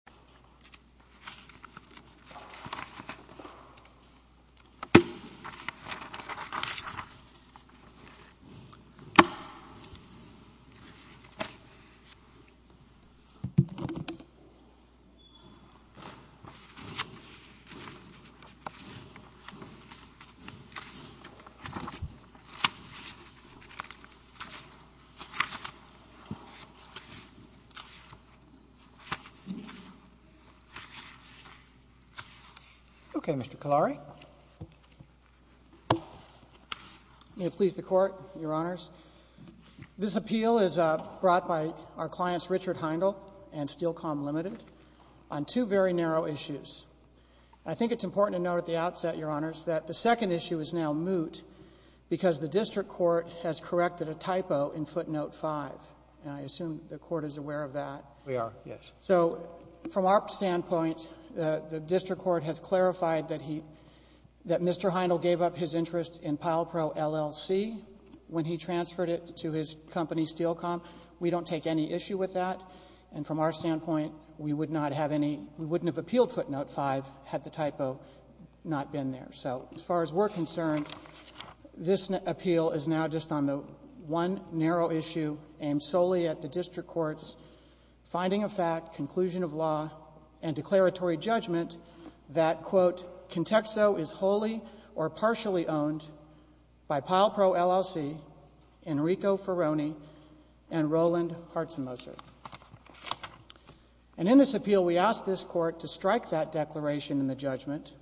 PilePro, L.L.C. v. Humphrey Chang Okay, Mr. Kalari. May it please the Court, Your Honors. This appeal is brought by our clients Richard Heindel and Steel Calm Limited on two very narrow issues. I think it's important to note at the outset, Your Honors, that the second issue is now moot because the district court has corrected a typo in footnote 5. And I assume the Court is aware of that. We are, yes. So from our standpoint, the district court has clarified that he — that Mr. Heindel gave up his interest in PilePro, L.L.C. when he transferred it to his company Steel Calm. We don't take any issue with that. And from our standpoint, we would not have any — we wouldn't have appealed footnote 5 had the typo not been there. So as far as we're concerned, this appeal is now just on the one narrow issue aimed solely at the district court's finding of fact, conclusion of law, and declaratory judgment that, quote, Contexto is wholly or partially owned by PilePro, L.L.C., Enrico Ferroni, and Roland Hartzmoser. And in this appeal, we ask this Court to strike that declaration in the judgment.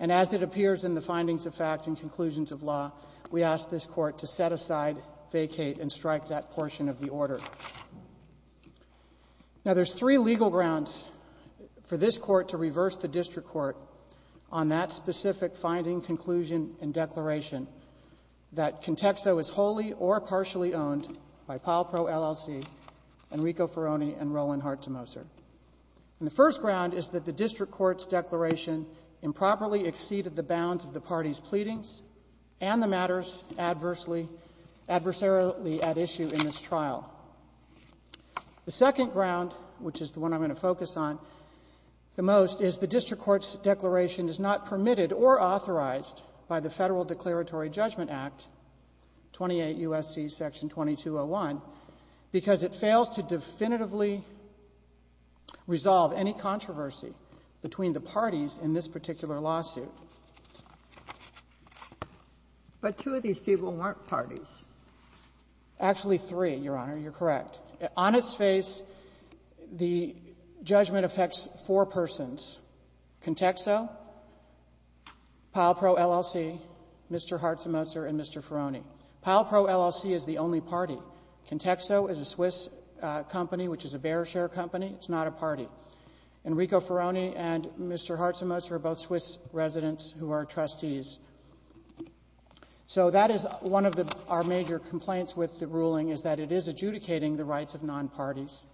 And as it appears in the findings of fact and conclusions of law, we ask this Court to set aside, vacate, and strike that portion of the order. Now, there's three legal grounds for this Court to reverse the district court on that specific finding, conclusion, and declaration that Contexto is wholly or partially owned by PilePro, L.L.C., Enrico Ferroni, and Roland Hartzmoser. And the first ground is that the district court's declaration improperly exceeded the bounds of the party's pleadings and the matters adversely — adversarially at issue in this trial. The second ground, which is the one I'm going to focus on the most, is the district court's declaration is not permitted or authorized by the Federal Declaratory Judgment Act, 28 U.S.C. Section 2201, because it fails to definitively resolve any controversy between the parties in this particular lawsuit. But two of these people weren't parties. Actually, three, Your Honor. You're correct. On its face, the judgment affects four persons, Contexto, PilePro, L.L.C., Mr. Hartzmoser, and Mr. Ferroni. PilePro, L.L.C., is the only party. Contexto is a Swiss company, which is a bear share company. It's not a party. Enrico Ferroni and Mr. Hartzmoser are both Swiss residents who are trustees. So that is one of our major complaints with the ruling, is that it is adjudicating the rights of nonparties.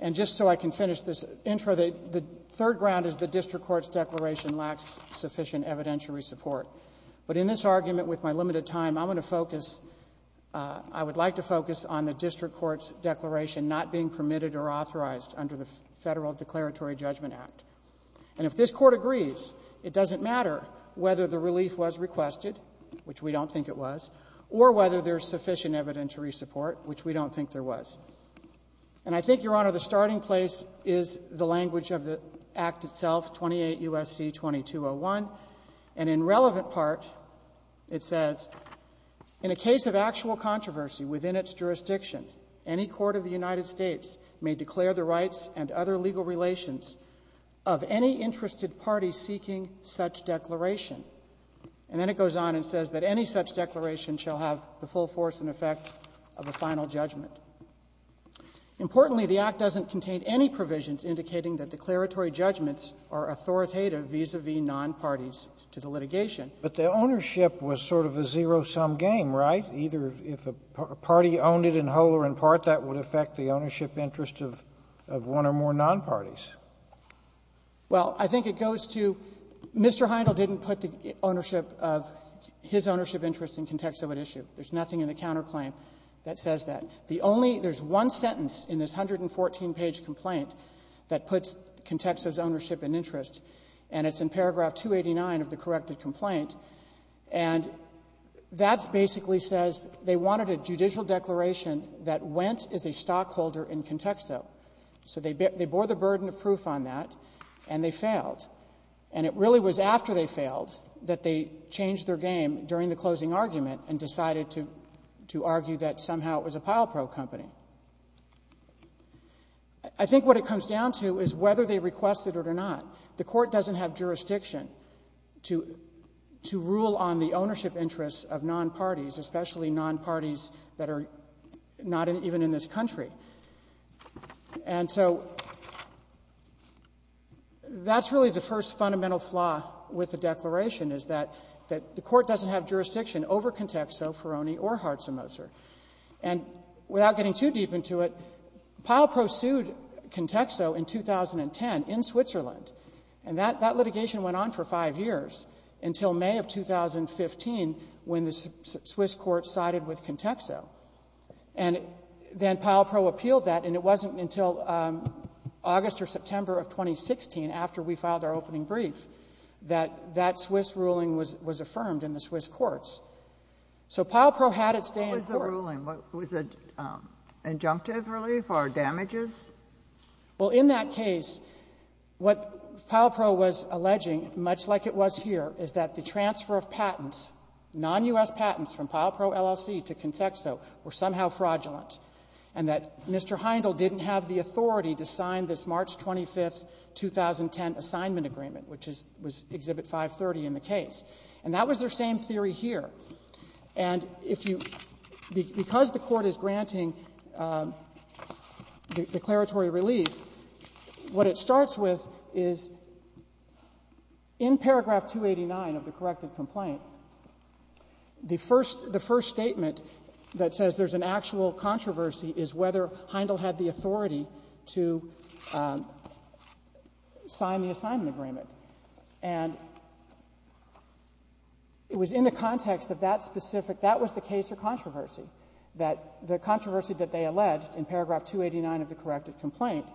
And just so I can finish this intro, the third ground is the district court's declaration lacks sufficient evidentiary support. But in this argument, with my limited time, I'm going to focus — I would like to focus on the district court's declaration not being permitted or authorized under the Federal Declaratory Judgment Act. And if this Court agrees, it doesn't matter whether the relief was requested, which we don't think it was, or whether there's sufficient evidentiary support, which we don't think there was. And I think, Your Honor, the starting place is the language of the Act itself, 28 U.S.C. 2201. And in relevant part, it says, And then it goes on and says that any such declaration shall have the full force and effect of a final judgment. Importantly, the Act doesn't contain any provisions indicating that declaratory judgments are authoritative vis-a-vis nonparties to the litigation. But the ownership was sort of a zero-sum game, right? Either if a party owned it in whole or in part, that would affect the ownership interest of one or more nonparties. Well, I think it goes to — Mr. Heindel didn't put the ownership of — his ownership interest in context of an issue. There's nothing in the counterclaim that says that. The only — there's one sentence in this 114-page complaint that puts Contexo's ownership in interest, and it's in paragraph 289 of the corrected complaint. And that basically says they wanted a judicial declaration that went as a stockholder in Contexo. So they bore the burden of proof on that, and they failed. And it really was after they failed that they changed their game during the closing argument and decided to — to argue that somehow it was a pile-probe company. I think what it comes down to is whether they requested it or not. The Court doesn't have jurisdiction to — to rule on the ownership interests of nonparties, especially nonparties that are not even in this country. And so that's really the first fundamental flaw with the declaration, is that — that the Court doesn't have jurisdiction over Contexo, Ferroni, or Hartz & Moser. And without getting too deep into it, Pile Pro sued Contexo in 2010 in Switzerland. And that — that litigation went on for five years until May of 2015, when the Swiss court sided with Contexo. And then Pile Pro appealed that, and it wasn't until August or September of 2016, after we filed our opening brief, that that Swiss ruling was — was affirmed in the Swiss courts. So Pile Pro had its day in court. What was the ruling? Was it injunctive relief or damages? Well, in that case, what Pile Pro was alleging, much like it was here, is that the transfer of patents, non-U.S. patents from Pile Pro LLC to Contexo, were somehow fraudulent, and that Mr. Heindel didn't have the authority to sign this March 25, 2010, assignment agreement, which is — was Exhibit 530 in the case. And that was their same theory here. And if you — because the Court is granting declaratory relief, what it starts with is, in paragraph 289 of the corrected complaint, the first — the first statement that says there's an actual controversy is whether Heindel had the authority to sign the assignment agreement. And it was in the context of that specific — that was the case of controversy, that the controversy that they alleged in paragraph 289 of the corrected complaint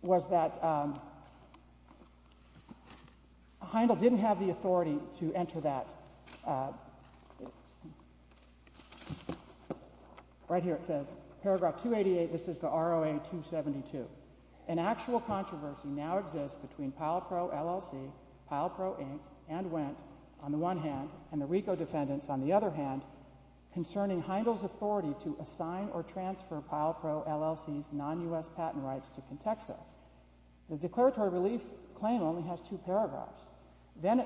was that Heindel didn't have the authority to enter that — right here it says, paragraph 288, this is the ROA-272, an actual controversy now exists between Pile Pro LLC, Pile Pro Inc., and Wendt, on the one hand, and the RICO defendants, on the other hand, concerning Heindel's authority to assign or transfer Pile Pro LLC's non-U.S. patent rights to Contexo. The declaratory relief claim only has two paragraphs. Then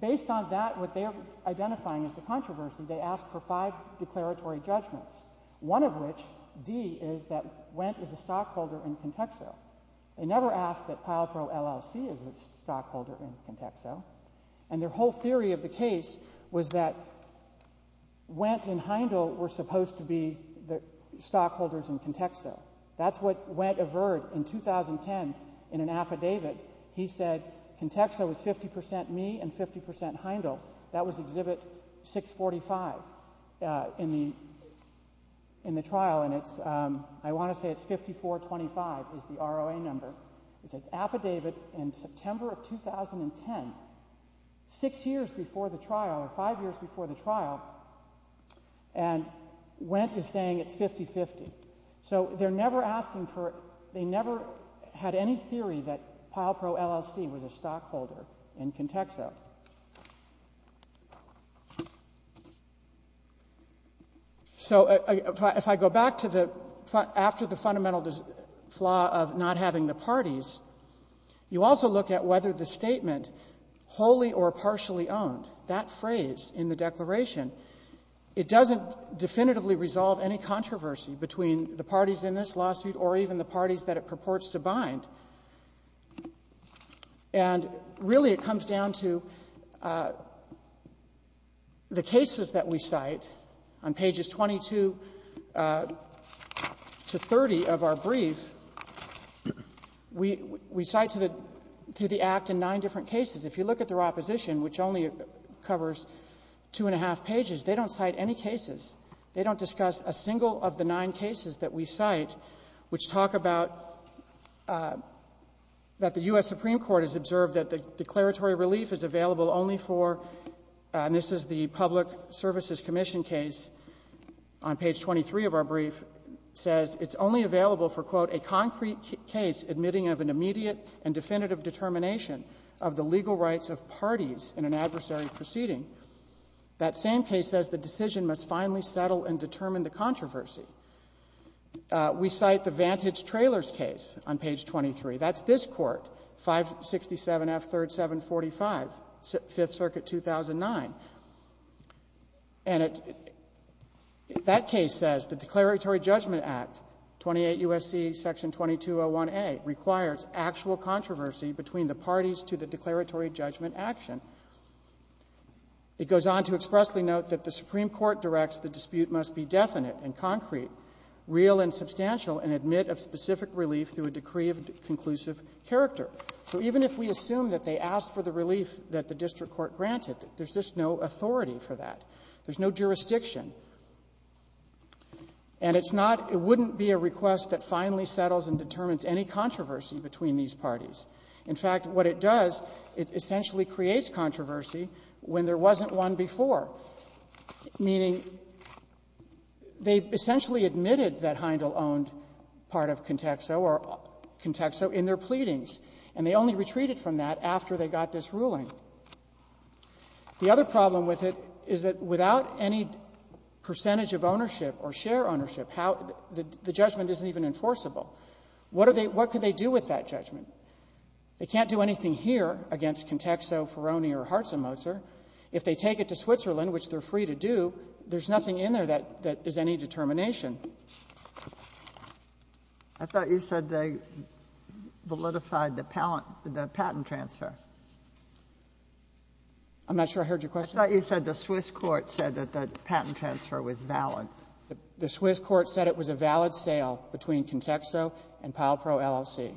based on that, what they're identifying as the controversy, they ask for five declaratory judgments, one of which, D, is that Wendt is a stockholder in Contexo. They never ask that Pile Pro LLC is a stockholder in Contexo. And their whole theory of the case was that Wendt and Heindel were supposed to be the stockholders in Contexo. That's what Wendt averred in 2010 in an affidavit. He said Contexo was 50 percent me and 50 percent Heindel. That was Exhibit 645 in the trial, and it's, I want to say it's 5425 is the ROA number. It's an affidavit in September of 2010, six years before the trial, or five years before the trial, and Wendt is saying it's 50-50. So they're never asking for, they never had any theory that Pile Pro LLC was a stockholder in Contexo. So if I go back to the, after the fundamental flaw of not having the parties, you also look at whether the statement, wholly or partially owned, that phrase in the declaration, it doesn't definitively resolve any controversy between the parties in this lawsuit or even the parties that it purports to bind. And really, it comes down to the cases that we cite. On pages 22 to 30 of our brief, we cite to the Act in nine different cases. If you look at their opposition, which only covers two-and-a-half pages, they don't cite any cases. They don't discuss a single of the nine cases that we cite, which talk about that the U.S. Supreme Court has observed that the declaratory relief is available only for, and this is the Public Services Commission case on page 23 of our brief, says it's only available for, quote, a concrete case admitting of an immediate and definitive determination of the legal rights of parties in an adversary proceeding. That same case says the decision must finally settle and determine the controversy. We cite the Vantage Trailers case on page 23. That's this Court, 567 F. 3rd 745, Fifth Circuit 2009. And it, that case says the Declaratory Judgment Act, 28 U.S.C. Section 2201A, requires actual controversy between the parties to the declaratory judgment action. It goes on to expressly note that the Supreme Court directs the dispute must be definite and concrete, real and substantial, and admit of specific relief through a decree of conclusive character. So even if we assume that they asked for the relief that the district court granted, there's just no authority for that. There's no jurisdiction. And it's not, it wouldn't be a request that finally settles and determines any controversy between these parties. In fact, what it does, it essentially creates controversy when there wasn't one before, meaning they essentially admitted that Heindel owned part of Contexo or Contexo in their pleadings, and they only retreated from that after they got this ruling. The other problem with it is that without any percentage of ownership or share ownership, how, the judgment isn't even enforceable. What are they, what could they do with that judgment? They can't do anything here against Contexo, Ferroni, or Hartz and Mozer. If they take it to Switzerland, which they're free to do, there's nothing in there that, that is any determination. I thought you said they validified the patent transfer. I'm not sure I heard your question. I thought you said the Swiss court said that the patent transfer was valid. The Swiss court said it was a valid sale between Contexo and Palpro LLC.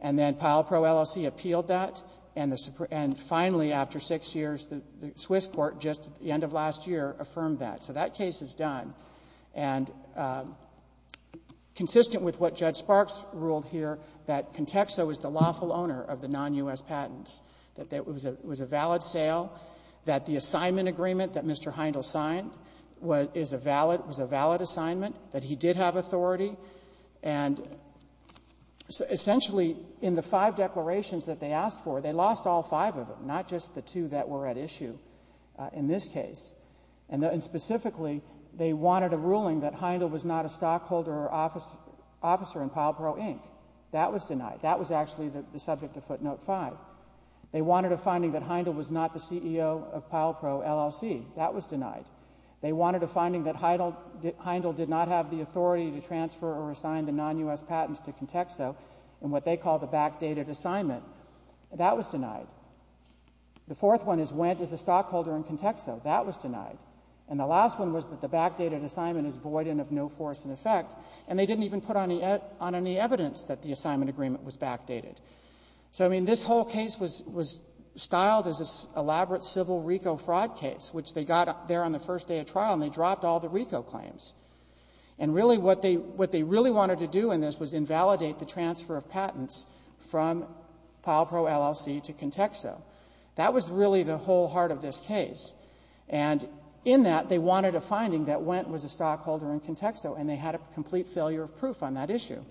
And then Palpro LLC appealed that, and finally, after six years, the Swiss court, just at the end of last year, affirmed that. So that case is done. And consistent with what Judge Sparks ruled here, that Contexo is the lawful owner of the non-U.S. patents, that it was a valid sale, that the assignment agreement that Mr. Heindel signed was a valid assignment, that he did have authority. And essentially, in the five declarations that they asked for, they lost all five of them, not just the two that were at issue in this case. And specifically, they wanted a ruling that Heindel was not a stockholder or officer in Palpro, Inc. That was denied. That was actually the subject of footnote five. They wanted a finding that Heindel was not the CEO of Palpro, LLC. That was denied. They wanted a finding that Heindel did not have the authority to transfer or assign the non-U.S. patents to Contexo in what they called a backdated assignment. That was denied. The fourth one is, went as a stockholder in Contexo. That was denied. And the last one was that the backdated assignment is void and of no force and effect. And they didn't even put on any evidence that the assignment agreement was backdated. So I mean, this whole case was styled as an elaborate civil RICO fraud case, which they got there on the first day of trial, and they dropped all the RICO claims. And really, what they really wanted to do in this was invalidate the transfer of patents from Palpro, LLC to Contexo. That was really the whole heart of this case. And in that, they wanted a finding that Wendt was a stockholder in Contexo, and they had a complete failure of proof on that issue.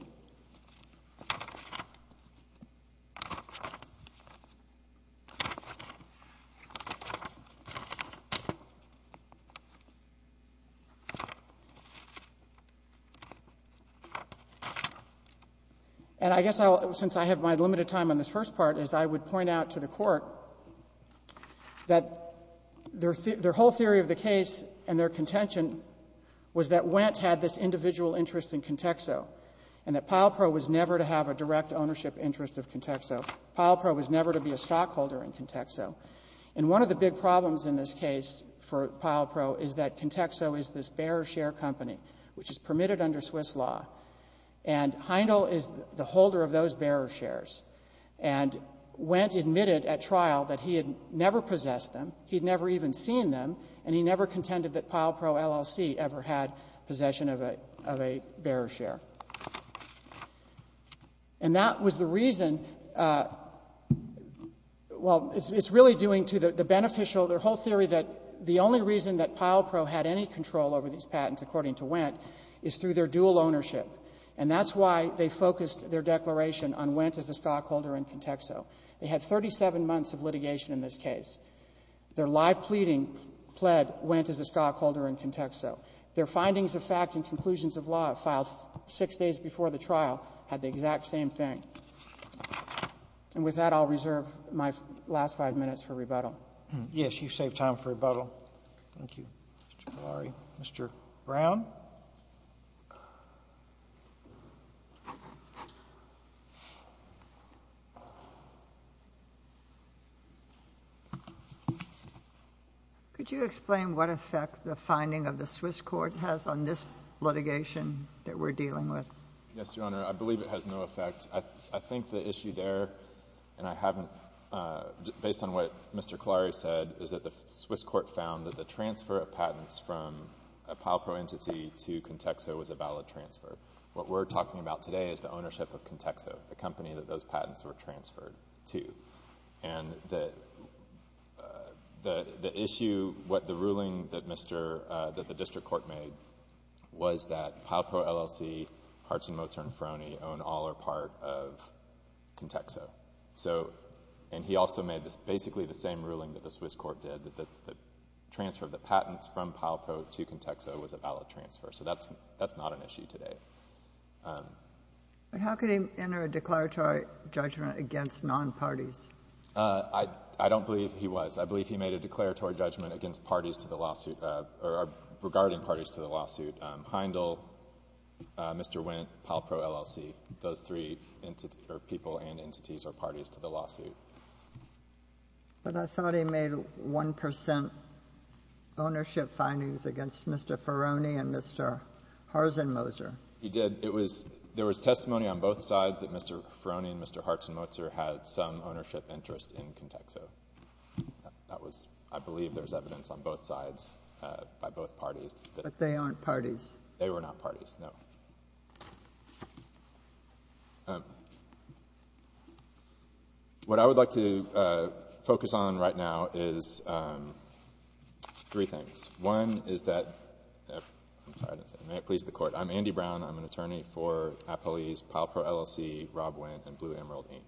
And I guess I'll, since I have my limited time on this first part, is I would point out to the Court that their whole theory of the case and their contention was that Wendt had this individual interest in Contexo, and that Palpro was never to have a direct ownership interest of Contexo. Palpro was never to be a stockholder in Contexo. And one of the big problems in this case for Palpro is that Contexo is this bearer share company, which is permitted under Swiss law. And Heindel is the holder of those bearer shares. And Wendt admitted at trial that he had never possessed them, he had never even seen them, and he never contended that Palpro, LLC ever had possession of a bearer share. And that was the reason, well, it's really doing to the beneficial, their whole theory that the only reason that Palpro had any control over these patents, according to Wendt, is through their dual ownership. And that's why they focused their declaration on Wendt as a stockholder in Contexo. They had 37 months of litigation in this case. Their live pleading pled Wendt as a stockholder in Contexo. Their findings of fact and conclusions of law filed six days before the trial had the exact same thing. And with that, I'll reserve my last five minutes for rebuttal. Roberts. Yes, you've saved time for rebuttal. Thank you, Mr. Malari. Mr. Brown. Could you explain what effect the finding of the Swiss court has on this litigation that we're dealing with? Yes, Your Honor. I believe it has no effect. I think the issue there, and I haven't, based on what Mr. Clary said, is that the Swiss court found that the transfer of patents from a Palpro entity to Contexo was a valid transfer. What we're talking about today is the ownership of Contexo, the company that those patents were transferred to. And the issue, what the ruling that the district court made was that Palpro LLC, Hartz and Mozart, and Froni own all or part of Contexo. So, and he also made basically the same ruling that the Swiss court did, that the transfer of the patents from Palpro to Contexo was a valid transfer. So that's not an issue today. How could he enter a declaratory judgment against non-parties? I don't believe he was. I believe he made a declaratory judgment against parties to the lawsuit, or regarding parties to the lawsuit, Heindel, Mr. Wendt, Palpro LLC. Those three people and entities are parties to the lawsuit. But I thought he made 1% ownership findings against Mr. Froni and Mr. Hartz and Mozart. He did. It was, there was testimony on both sides that Mr. Froni and Mr. Hartz and Mozart had some ownership interest in Contexo. That was, I believe there was evidence on both sides, by both parties. But they aren't parties. They were not parties, no. What I would like to focus on right now is three things. One is that, I'm sorry, may it please the Court. I'm Andy Brown. I'm an attorney for Appalese, Palpro LLC, Rob Wendt, and Blue Emerald, Inc.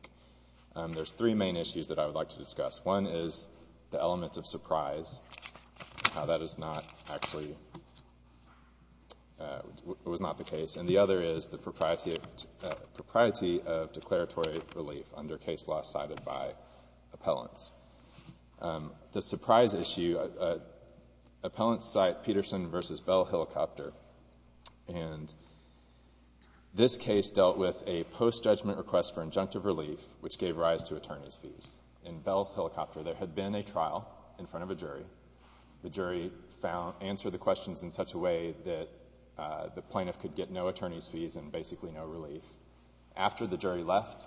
One is the element of surprise, how that is not actually, it was not the case. And the other is the propriety of declaratory relief under case law cited by appellants. The surprise issue, appellants cite Peterson v. Bell Helicopter, and this case dealt with a post-judgment request for injunctive relief, which gave rise to attorney's fees. In Bell Helicopter, there had been a trial in front of a jury. The jury found, answered the questions in such a way that the plaintiff could get no attorney's fees and basically no relief. After the jury left,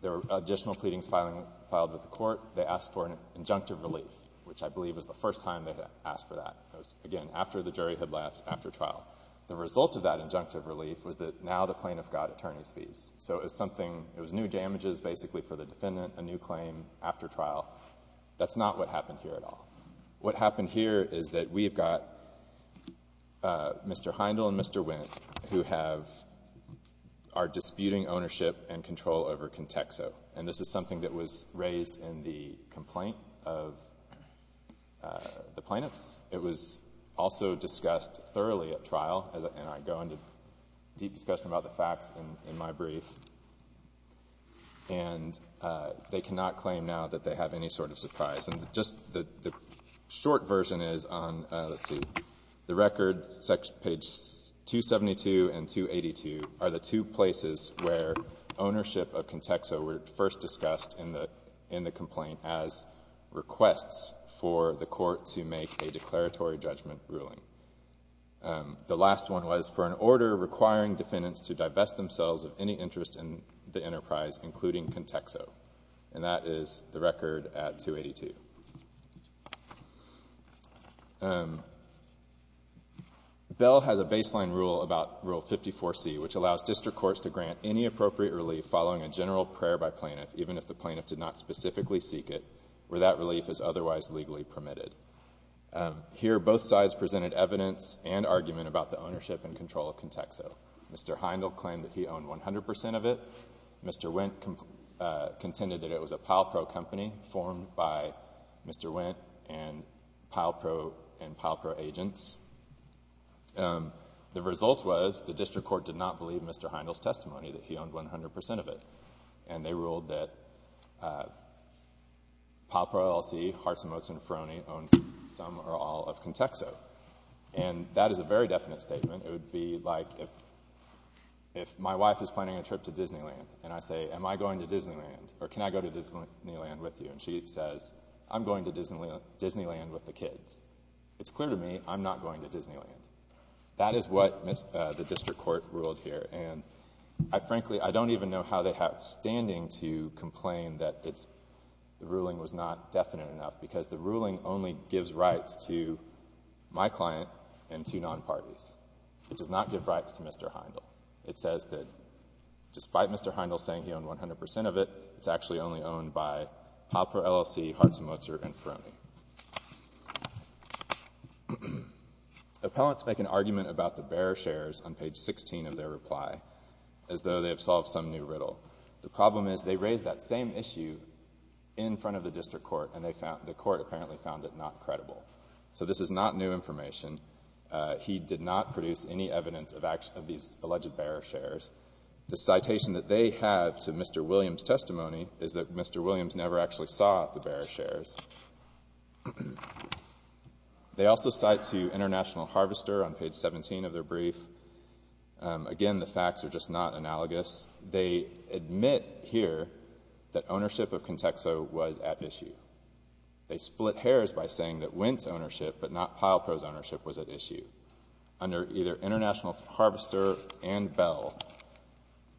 there were additional pleadings filed with the Court. They asked for an injunctive relief, which I believe was the first time they had asked for that. It was, again, after the jury had left, after trial. The result of that injunctive relief was that now the plaintiff got attorney's fees. So it was something, it was new damages basically for the defendant, a new claim after trial. That's not what happened here at all. What happened here is that we have got Mr. Heindel and Mr. Wendt who have, are disputing ownership and control over Contexo. And this is something that was raised in the complaint of the plaintiffs. It was also discussed thoroughly at trial, and I go into deep discussion about the facts in my brief. And they cannot claim now that they have any sort of surprise. And just the short version is on, let's see, the record page 272 and 282 are the two places where ownership of Contexo were first discussed in the complaint as requests for the Court to make a declaratory judgment ruling. The last one was for an order requiring defendants to divest themselves of any interest in the enterprise, including Contexo. And that is the record at 282. Bell has a baseline rule about Rule 54C, which allows district courts to grant any appropriate relief following a general prayer by plaintiff, even if the plaintiff did not specifically seek it, where that relief is otherwise legally permitted. Here, both sides presented evidence and argument about the ownership and control of Contexo. Mr. Heindel claimed that he owned 100% of it. Mr. Wendt contended that it was a Palpro company formed by Mr. Wendt and Palpro agents. The result was the district court did not believe Mr. Heindel's testimony, that he owned 100% of it. And they ruled that Palpro LLC, Hartz, Motz, and Ferroni owned some or all of Contexo. And that is a very definite statement. It would be like if my wife is planning a trip to Disneyland, and I say, am I going to Disneyland? Or can I go to Disneyland with you? And she says, I'm going to Disneyland with the kids. It's clear to me, I'm not going to Disneyland. That is what the district court ruled here. And I frankly, I don't even know how they have standing to complain that the ruling was not definite enough, because the ruling only gives rights to my client and to non-parties. It does not give rights to Mr. Heindel. It says that despite Mr. Heindel saying he owned 100% of it, it's actually only owned by Palpro LLC, Hartz, Motz, and Ferroni. Appellants make an argument about the bearer shares on page 16 of their reply, as though they have solved some new riddle. The problem is they raised that same issue in front of the district court, and the court apparently found it not credible. So this is not new information. He did not produce any evidence of these alleged bearer shares. The citation that they have to Mr. Williams' testimony is that Mr. Williams never actually saw the bearer shares. They also cite to International Harvester on page 17 of their brief. Again, the facts are just not analogous. They admit here that ownership of Contexo was at issue. They split hairs by saying that Wint's ownership, but not Palpro's ownership, was at issue. Under either International Harvester and Bell,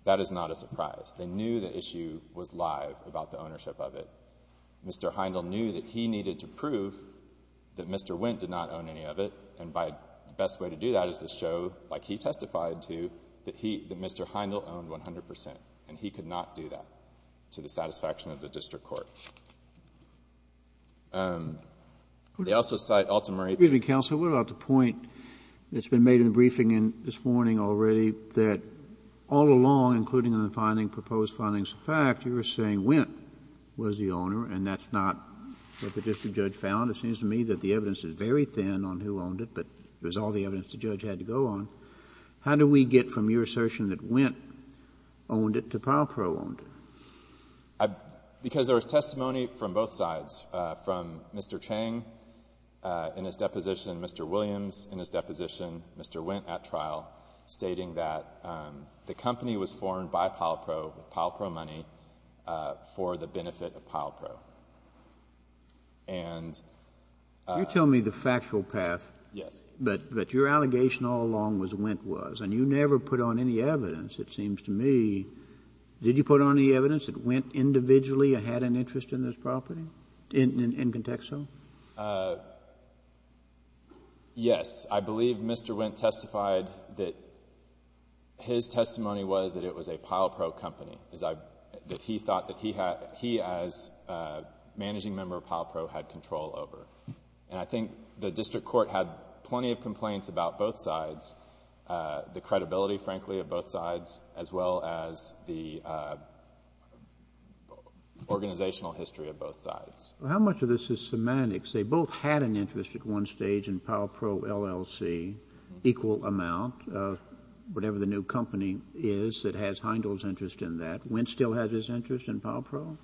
that is not a surprise. They knew the issue was live about the ownership of it. Mr. Heindel knew that he needed to prove that Mr. Wint did not own any of it, and the best way to do that is to show, like he testified to, that Mr. Heindel owned 100 percent, and he could not do that to the satisfaction of the district court. They also cite Alta Marie. Excuse me, counsel. What about the point that's been made in the briefing this morning already, that all along, including in the finding, proposed findings of fact, you were saying Wint was the owner and that's not what the district judge found? It seems to me that the evidence is very thin on who owned it, but it was all the evidence the judge had to go on. How do we get from your assertion that Wint owned it to Palpro owned it? Because there was testimony from both sides, from Mr. Chang in his deposition, Mr. Williams in his deposition, Mr. Wint at trial, stating that the company was formed by Palpro with Palpro money for the benefit of Palpro. And You're telling me the factual path, but your allegation all along was Wint was, and you never put on any evidence, it seems to me. Did you put on any evidence that Wint individually had an interest in this property, in context of? Yes. I believe Mr. Wint testified that his testimony was that it was a Palpro company, that he thought that he, as a managing member of Palpro, had control over. And I think the district court had plenty of complaints about both sides, the credibility frankly of both sides, as well as the organizational history of both sides. Well, how much of this is semantics? They both had an interest at one stage in Palpro, LLC, equal amount, whatever the new company is that has Heindel's interest in that. Wint still has his interest in Palpro?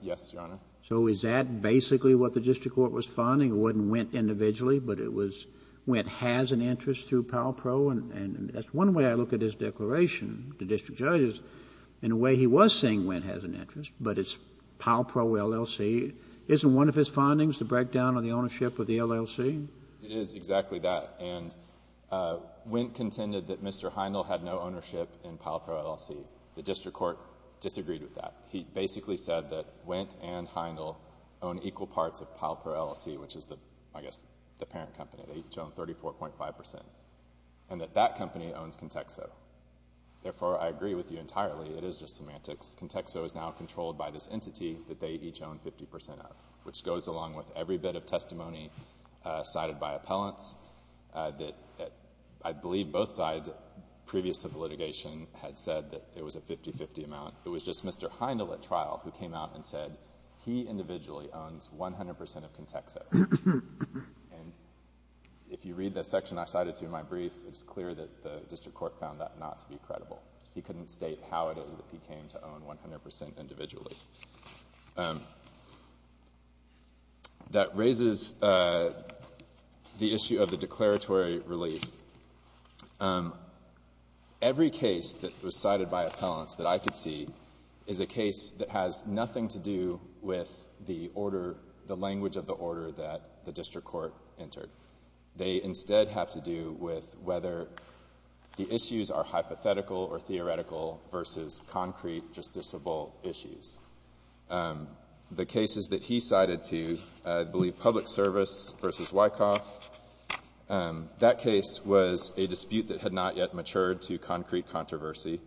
Yes, Your Honor. So is that basically what the district court was finding, it wasn't Wint individually, but it was Wint has an interest through Palpro? And that's one way I look at his declaration to district judges, in a way he was saying Palpro, LLC, isn't one of his findings the breakdown of the ownership of the LLC? It is exactly that. And Wint contended that Mr. Heindel had no ownership in Palpro, LLC. The district court disagreed with that. He basically said that Wint and Heindel own equal parts of Palpro, LLC, which is the, I guess, the parent company, they each own 34.5 percent, and that that company owns Contexo. Therefore, I agree with you entirely, it is just semantics. Contexo is now controlled by this entity that they each own 50 percent of, which goes along with every bit of testimony cited by appellants that I believe both sides, previous to the litigation, had said that it was a 50-50 amount. It was just Mr. Heindel at trial who came out and said he individually owns 100 percent of Contexo. And if you read the section I cited to you in my brief, it's clear that the district court found that not to be credible. He couldn't state how it is that he came to own 100 percent individually. That raises the issue of the declaratory relief. Every case that was cited by appellants that I could see is a case that has nothing to do with the order, the language of the order that the district court entered. They instead have to do with whether the issues are hypothetical or theoretical versus concrete justiciable issues. The cases that he cited to you, I believe public service versus Wyckoff, that case was a dispute that had not yet matured to concrete controversy.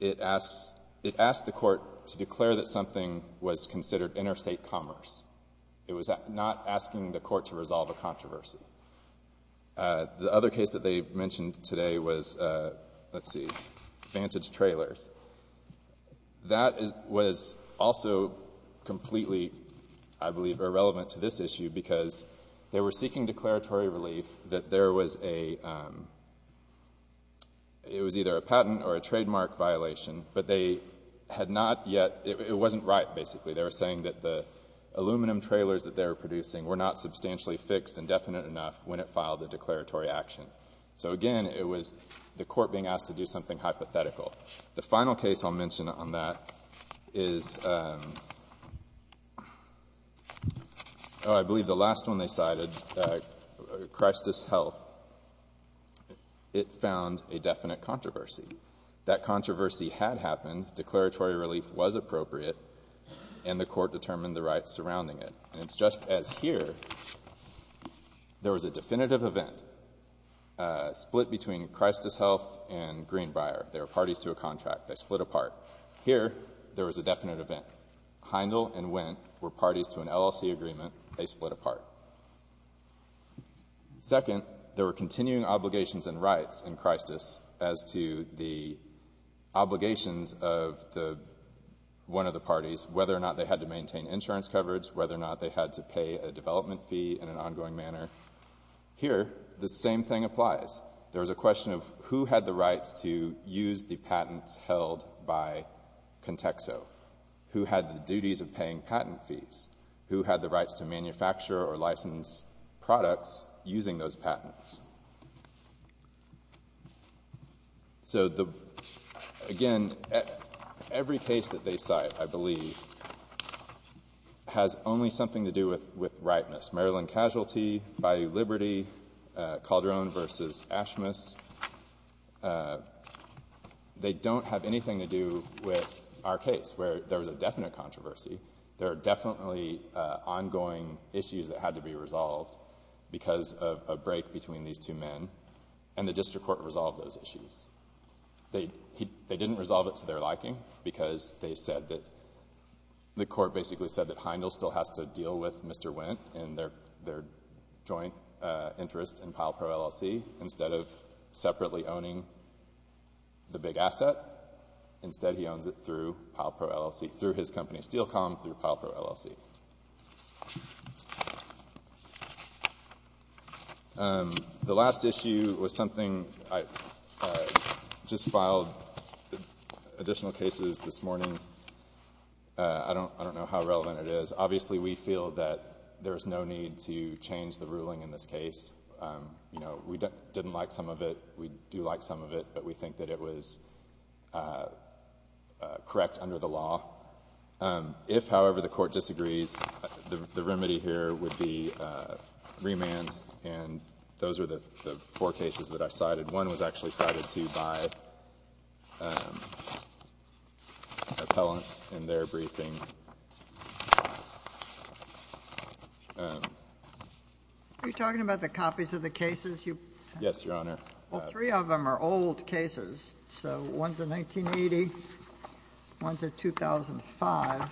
It asks the court to declare that something was considered interstate commerce. It was not asking the court to resolve a controversy. The other case that they mentioned today was, let's see, Vantage Trailers. That was also completely, I believe, irrelevant to this issue because they were seeking declaratory relief that there was a — it was either a patent or a trademark violation, but they had not yet — it wasn't right, basically. They were saying that the aluminum trailers that they were producing were not substantially fixed and definite enough when it filed the declaratory action. So again, it was the court being asked to do something hypothetical. The final case I'll mention on that is — oh, I believe the last one they cited, Christus Health. It found a definite controversy. That controversy had happened, declaratory relief was appropriate, and the court determined the rights surrounding it. And it's just as here, there was a definitive event, split between Christus Health and Greenbrier. They were parties to a contract. They split apart. Here there was a definite event. Heindel and Wendt were parties to an LLC agreement. They split apart. Second, there were continuing obligations and rights in Christus as to the obligations of the — one of the parties, whether or not they had to maintain insurance coverage, whether or not they had to pay a development fee in an ongoing manner. Here, the same thing applies. There was a question of who had the rights to use the patents held by Contexo? Who had the duties of paying patent fees? Who had the rights to manufacture or license products using those patents? So the — again, every case that they cite, I believe, has only something to do with rightness. Maryland Casualty, Bayou Liberty, Calderon v. Ashmus. They don't have anything to do with our case, where there was a definite controversy. There are definitely ongoing issues that had to be resolved because of a break between these two men, and the district court resolved those issues. They didn't resolve it to their liking because they said that — the court basically said that Heindel still has to deal with Mr. Wendt and their joint interest in PilePro LLC. Instead of separately owning the big asset, instead he owns it through PilePro LLC, through his company SteelCom, through PilePro LLC. The last issue was something — I just filed additional cases this morning. I don't know how relevant it is. Obviously we feel that there's no need to change the ruling in this case. You know, we didn't like some of it. We do like some of it, but we think that it was correct under the law. If, however, the Court disagrees, the remedy here would be remand, and those are the four cases that I cited. One was actually cited, too, by appellants in their briefing. Are you talking about the copies of the cases you — Yes, Your Honor. Well, three of them are old cases. So one's a 1980, one's a 2005.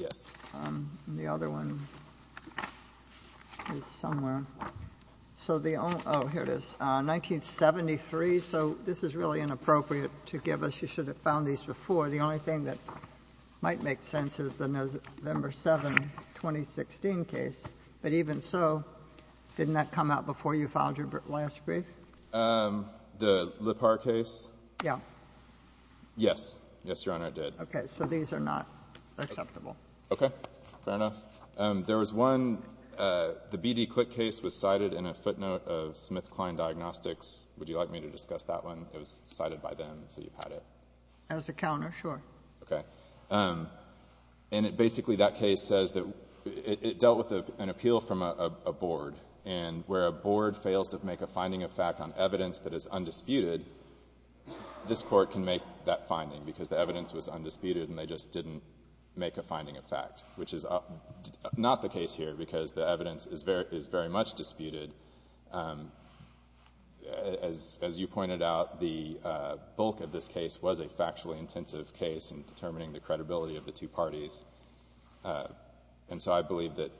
Yes. And the other one is somewhere. So the — oh, here it is. 1973. So this is really inappropriate to give us. You should have found these before. The only thing that might make sense is the November 7, 2016 case. But even so, didn't that come out before you filed your last brief? The Lippard case? Yeah. Yes. Yes, Your Honor, it did. Okay. So these are not acceptable. Okay. Fair enough. There was one — the B.D. Klick case was cited in a footnote of SmithKline Diagnostics. Would you like me to discuss that one? It was cited by them, so you've had it. As a counter, sure. Okay. And it basically — that case says that it dealt with an appeal from a board. And where a board fails to make a finding of fact on evidence that is undisputed, this court can make that finding because the evidence was undisputed and they just didn't make a finding of fact, which is not the case here because the evidence is very much disputed. As you pointed out, the bulk of this case was a factually intensive case in determining the credibility of the two parties, and so I believe that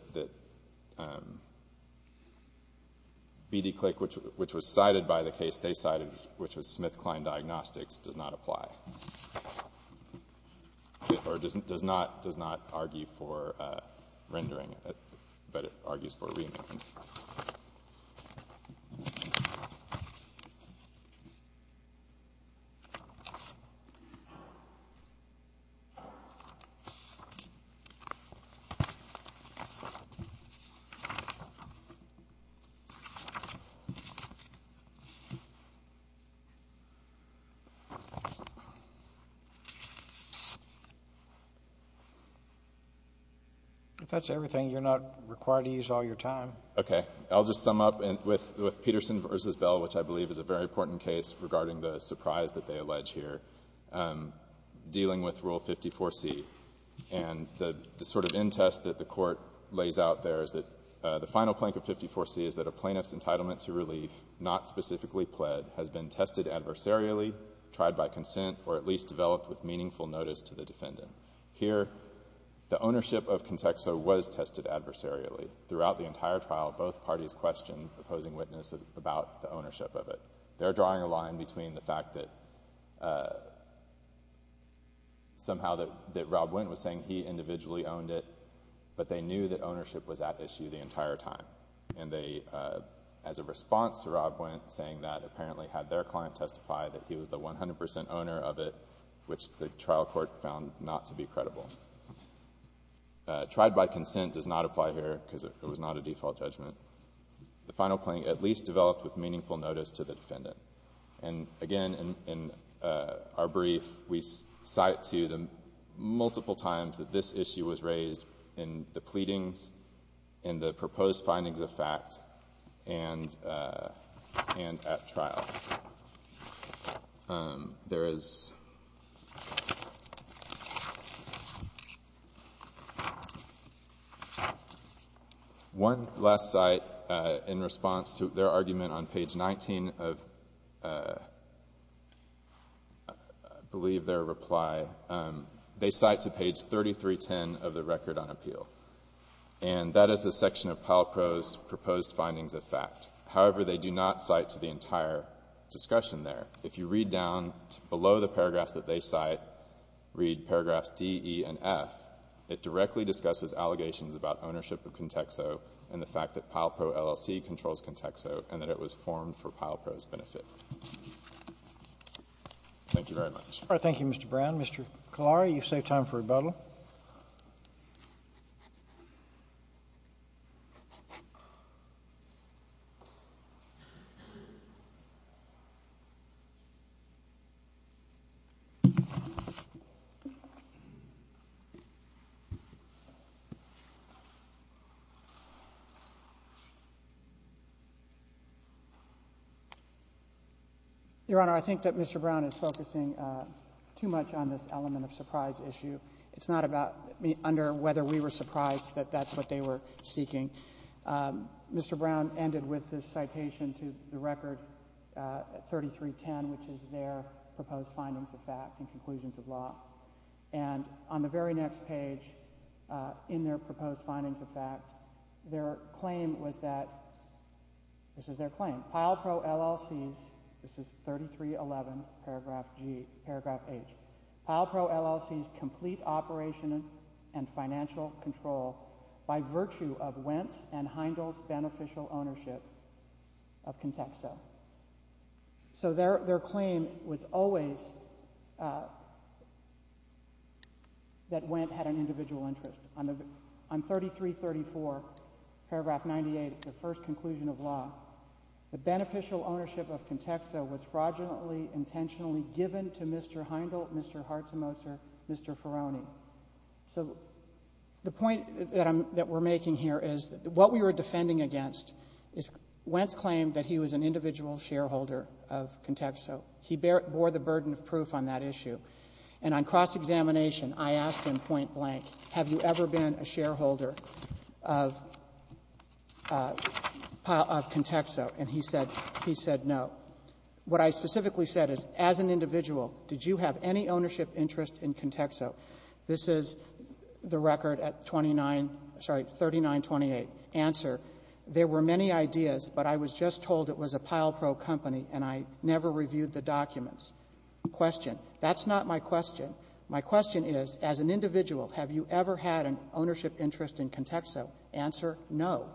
B.D. Klick, which was cited by the case they cited, which was SmithKline Diagnostics, does not apply, or does not argue for rendering it, but it argues for re-imagining it. If that's everything, you're not required to use all your time. Okay. I'll just sum up with Peterson v. Bell, which I believe is a very important case regarding the surprise that they allege here, dealing with Rule 54c. And the sort of end test that the Court lays out there is that the final plank of 54c is that a plaintiff's entitlement to relief, not specifically pled, has been tested adversarially, tried by consent, or at least developed with meaningful notice to the defendant. Here, the ownership of Contexo was tested adversarially. Throughout the entire trial, both parties questioned the opposing witness about the ownership of it. They're drawing a line between the fact that somehow that Rob Wendt was saying he individually owned it, but they knew that ownership was at issue the entire time, and they, as a response to Rob Wendt saying that, apparently had their client testify that he was the 100 percent owner of it, which the trial court found not to be credible. Tried by consent does not apply here, because it was not a default judgment. The final plank, at least developed with meaningful notice to the defendant. And again, in our brief, we cite to them multiple times that this issue was raised in the pleadings and the proposed findings of fact and at trial. There is one last cite in response to their argument on page 19 of, I believe, their reply. They cite to page 3310 of the Record on Appeal, and that is a section of Palpro's proposed findings of fact. However, they do not cite to the entire discussion there. If you read down below the paragraphs that they cite, read paragraphs D, E, and F, it directly discusses allegations about ownership of Contexo and the fact that Palpro LLC controls Contexo and that it was formed for Palpro's benefit. Thank you very much. All right. Thank you, Mr. Brown. Mr. Kalari, you've saved time for rebuttal. Your Honor, I think that Mr. Brown is focusing too much on this element of surprise issue. It's not about under whether we were surprised that that's what they were seeking. Mr. Brown ended with this citation to the Record 3310, which is their proposed findings of fact and conclusions of law. And on the very next page in their proposed findings of fact, their claim was that, this is their claim, Palpro LLC's, this is 3311, paragraph G, paragraph H, Palpro LLC's complete operation and financial control by virtue of Wentz and Heindel's beneficial ownership of Contexo. So their claim was always that Wentz had an individual interest. On 3334, paragraph 98, the first conclusion of law, the beneficial ownership of Contexo was fraudulently, intentionally given to Mr. Heindel, Mr. Hartzemuzer, Mr. Ferroni. So the point that we're making here is what we were defending against is Wentz claimed that he was an individual shareholder of Contexo. He bore the burden of proof on that issue. And on cross-examination, I asked him point blank, have you ever been a shareholder of Contexo? And he said, he said no. What I specifically said is, as an individual, did you have any ownership interest in Contexo? This is the record at 29, sorry, 3928, answer, there were many ideas, but I was just told it was a Palpro company, and I never reviewed the documents, question. That's not my question. My question is, as an individual, have you ever had an ownership interest in Contexo? Answer, no.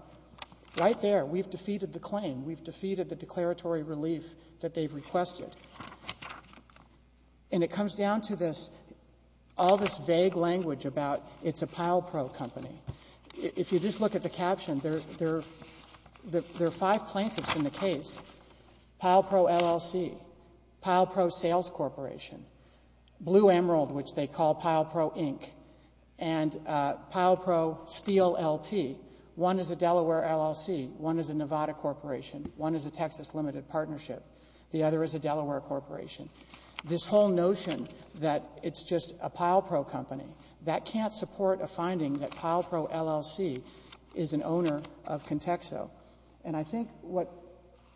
Right there, we've defeated the claim. We've defeated the declaratory relief that they've requested. And it comes down to this, all this vague language about it's a Palpro company. If you just look at the caption, there are five plaintiffs in the case, Palpro LLC, Palpro Sales Corporation, Blue Emerald, which they call Palpro, Inc., and Palpro Steel LP. One is a Delaware LLC, one is a Nevada Corporation, one is a Texas Limited Partnership, the other is a Delaware Corporation. This whole notion that it's just a Palpro company, that can't support a finding that Palpro LLC is an owner of Contexo. And I think what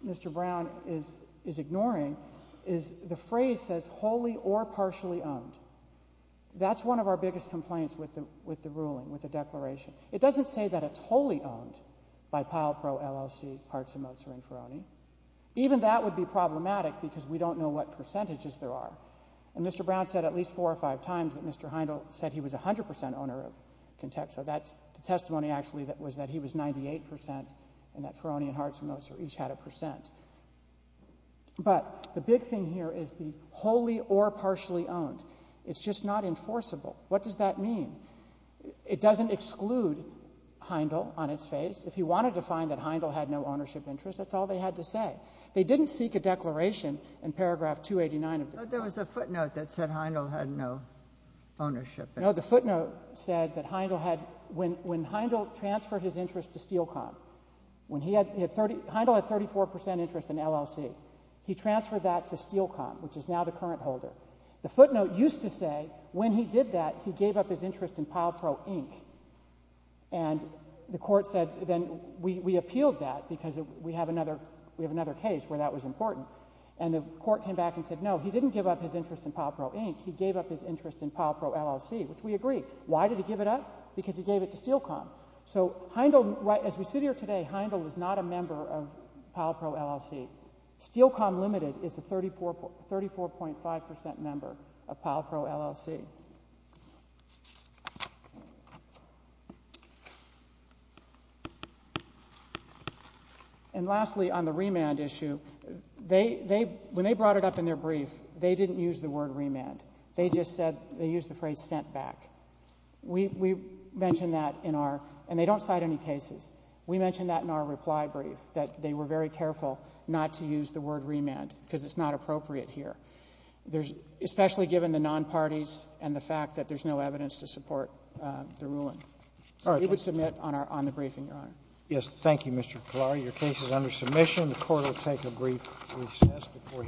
Mr. Brown is ignoring is the phrase says wholly or partially owned. That's one of our biggest complaints with the ruling, with the declaration. It doesn't say that it's wholly owned by Palpro LLC, Hartz & Mozer, and Ferroni. Even that would be problematic because we don't know what percentages there are. And Mr. Brown said at least four or five times that Mr. Heindel said he was 100 percent owner of Contexo. That's the testimony actually that was that he was 98 percent and that Ferroni and Hartz & Mozer each had a percent. But the big thing here is the wholly or partially owned. It's just not enforceable. What does that mean? It doesn't exclude Heindel on its face. If he wanted to find that Heindel had no ownership interest, that's all they had to say. They didn't seek a declaration in paragraph 289 of the- But there was a footnote that said Heindel had no ownership. No, the footnote said that Heindel had, when Heindel transferred his interest to Steel Com, which is now the current holder. The footnote used to say when he did that, he gave up his interest in Palpro, Inc. And the court said then we appealed that because we have another case where that was important. And the court came back and said, no, he didn't give up his interest in Palpro, Inc. He gave up his interest in Palpro, LLC, which we agree. Why did he give it up? Because he gave it to Steel Com. So Heindel, as we sit here today, Heindel is not a member of Palpro, LLC. Steel Com Limited is a 34.5% member of Palpro, LLC. And lastly, on the remand issue, when they brought it up in their brief, they didn't use the word remand. They just said, they used the phrase sent back. We mentioned that in our, and they don't cite any cases. We mentioned that in our reply brief, that they were very careful not to use the word remand, because it's not appropriate here, especially given the non-parties and the fact that there's no evidence to support the ruling. So we would submit on the briefing, Your Honor. Yes, thank you, Mr. Kalar. Your case is under submission. The court will take a brief recess before.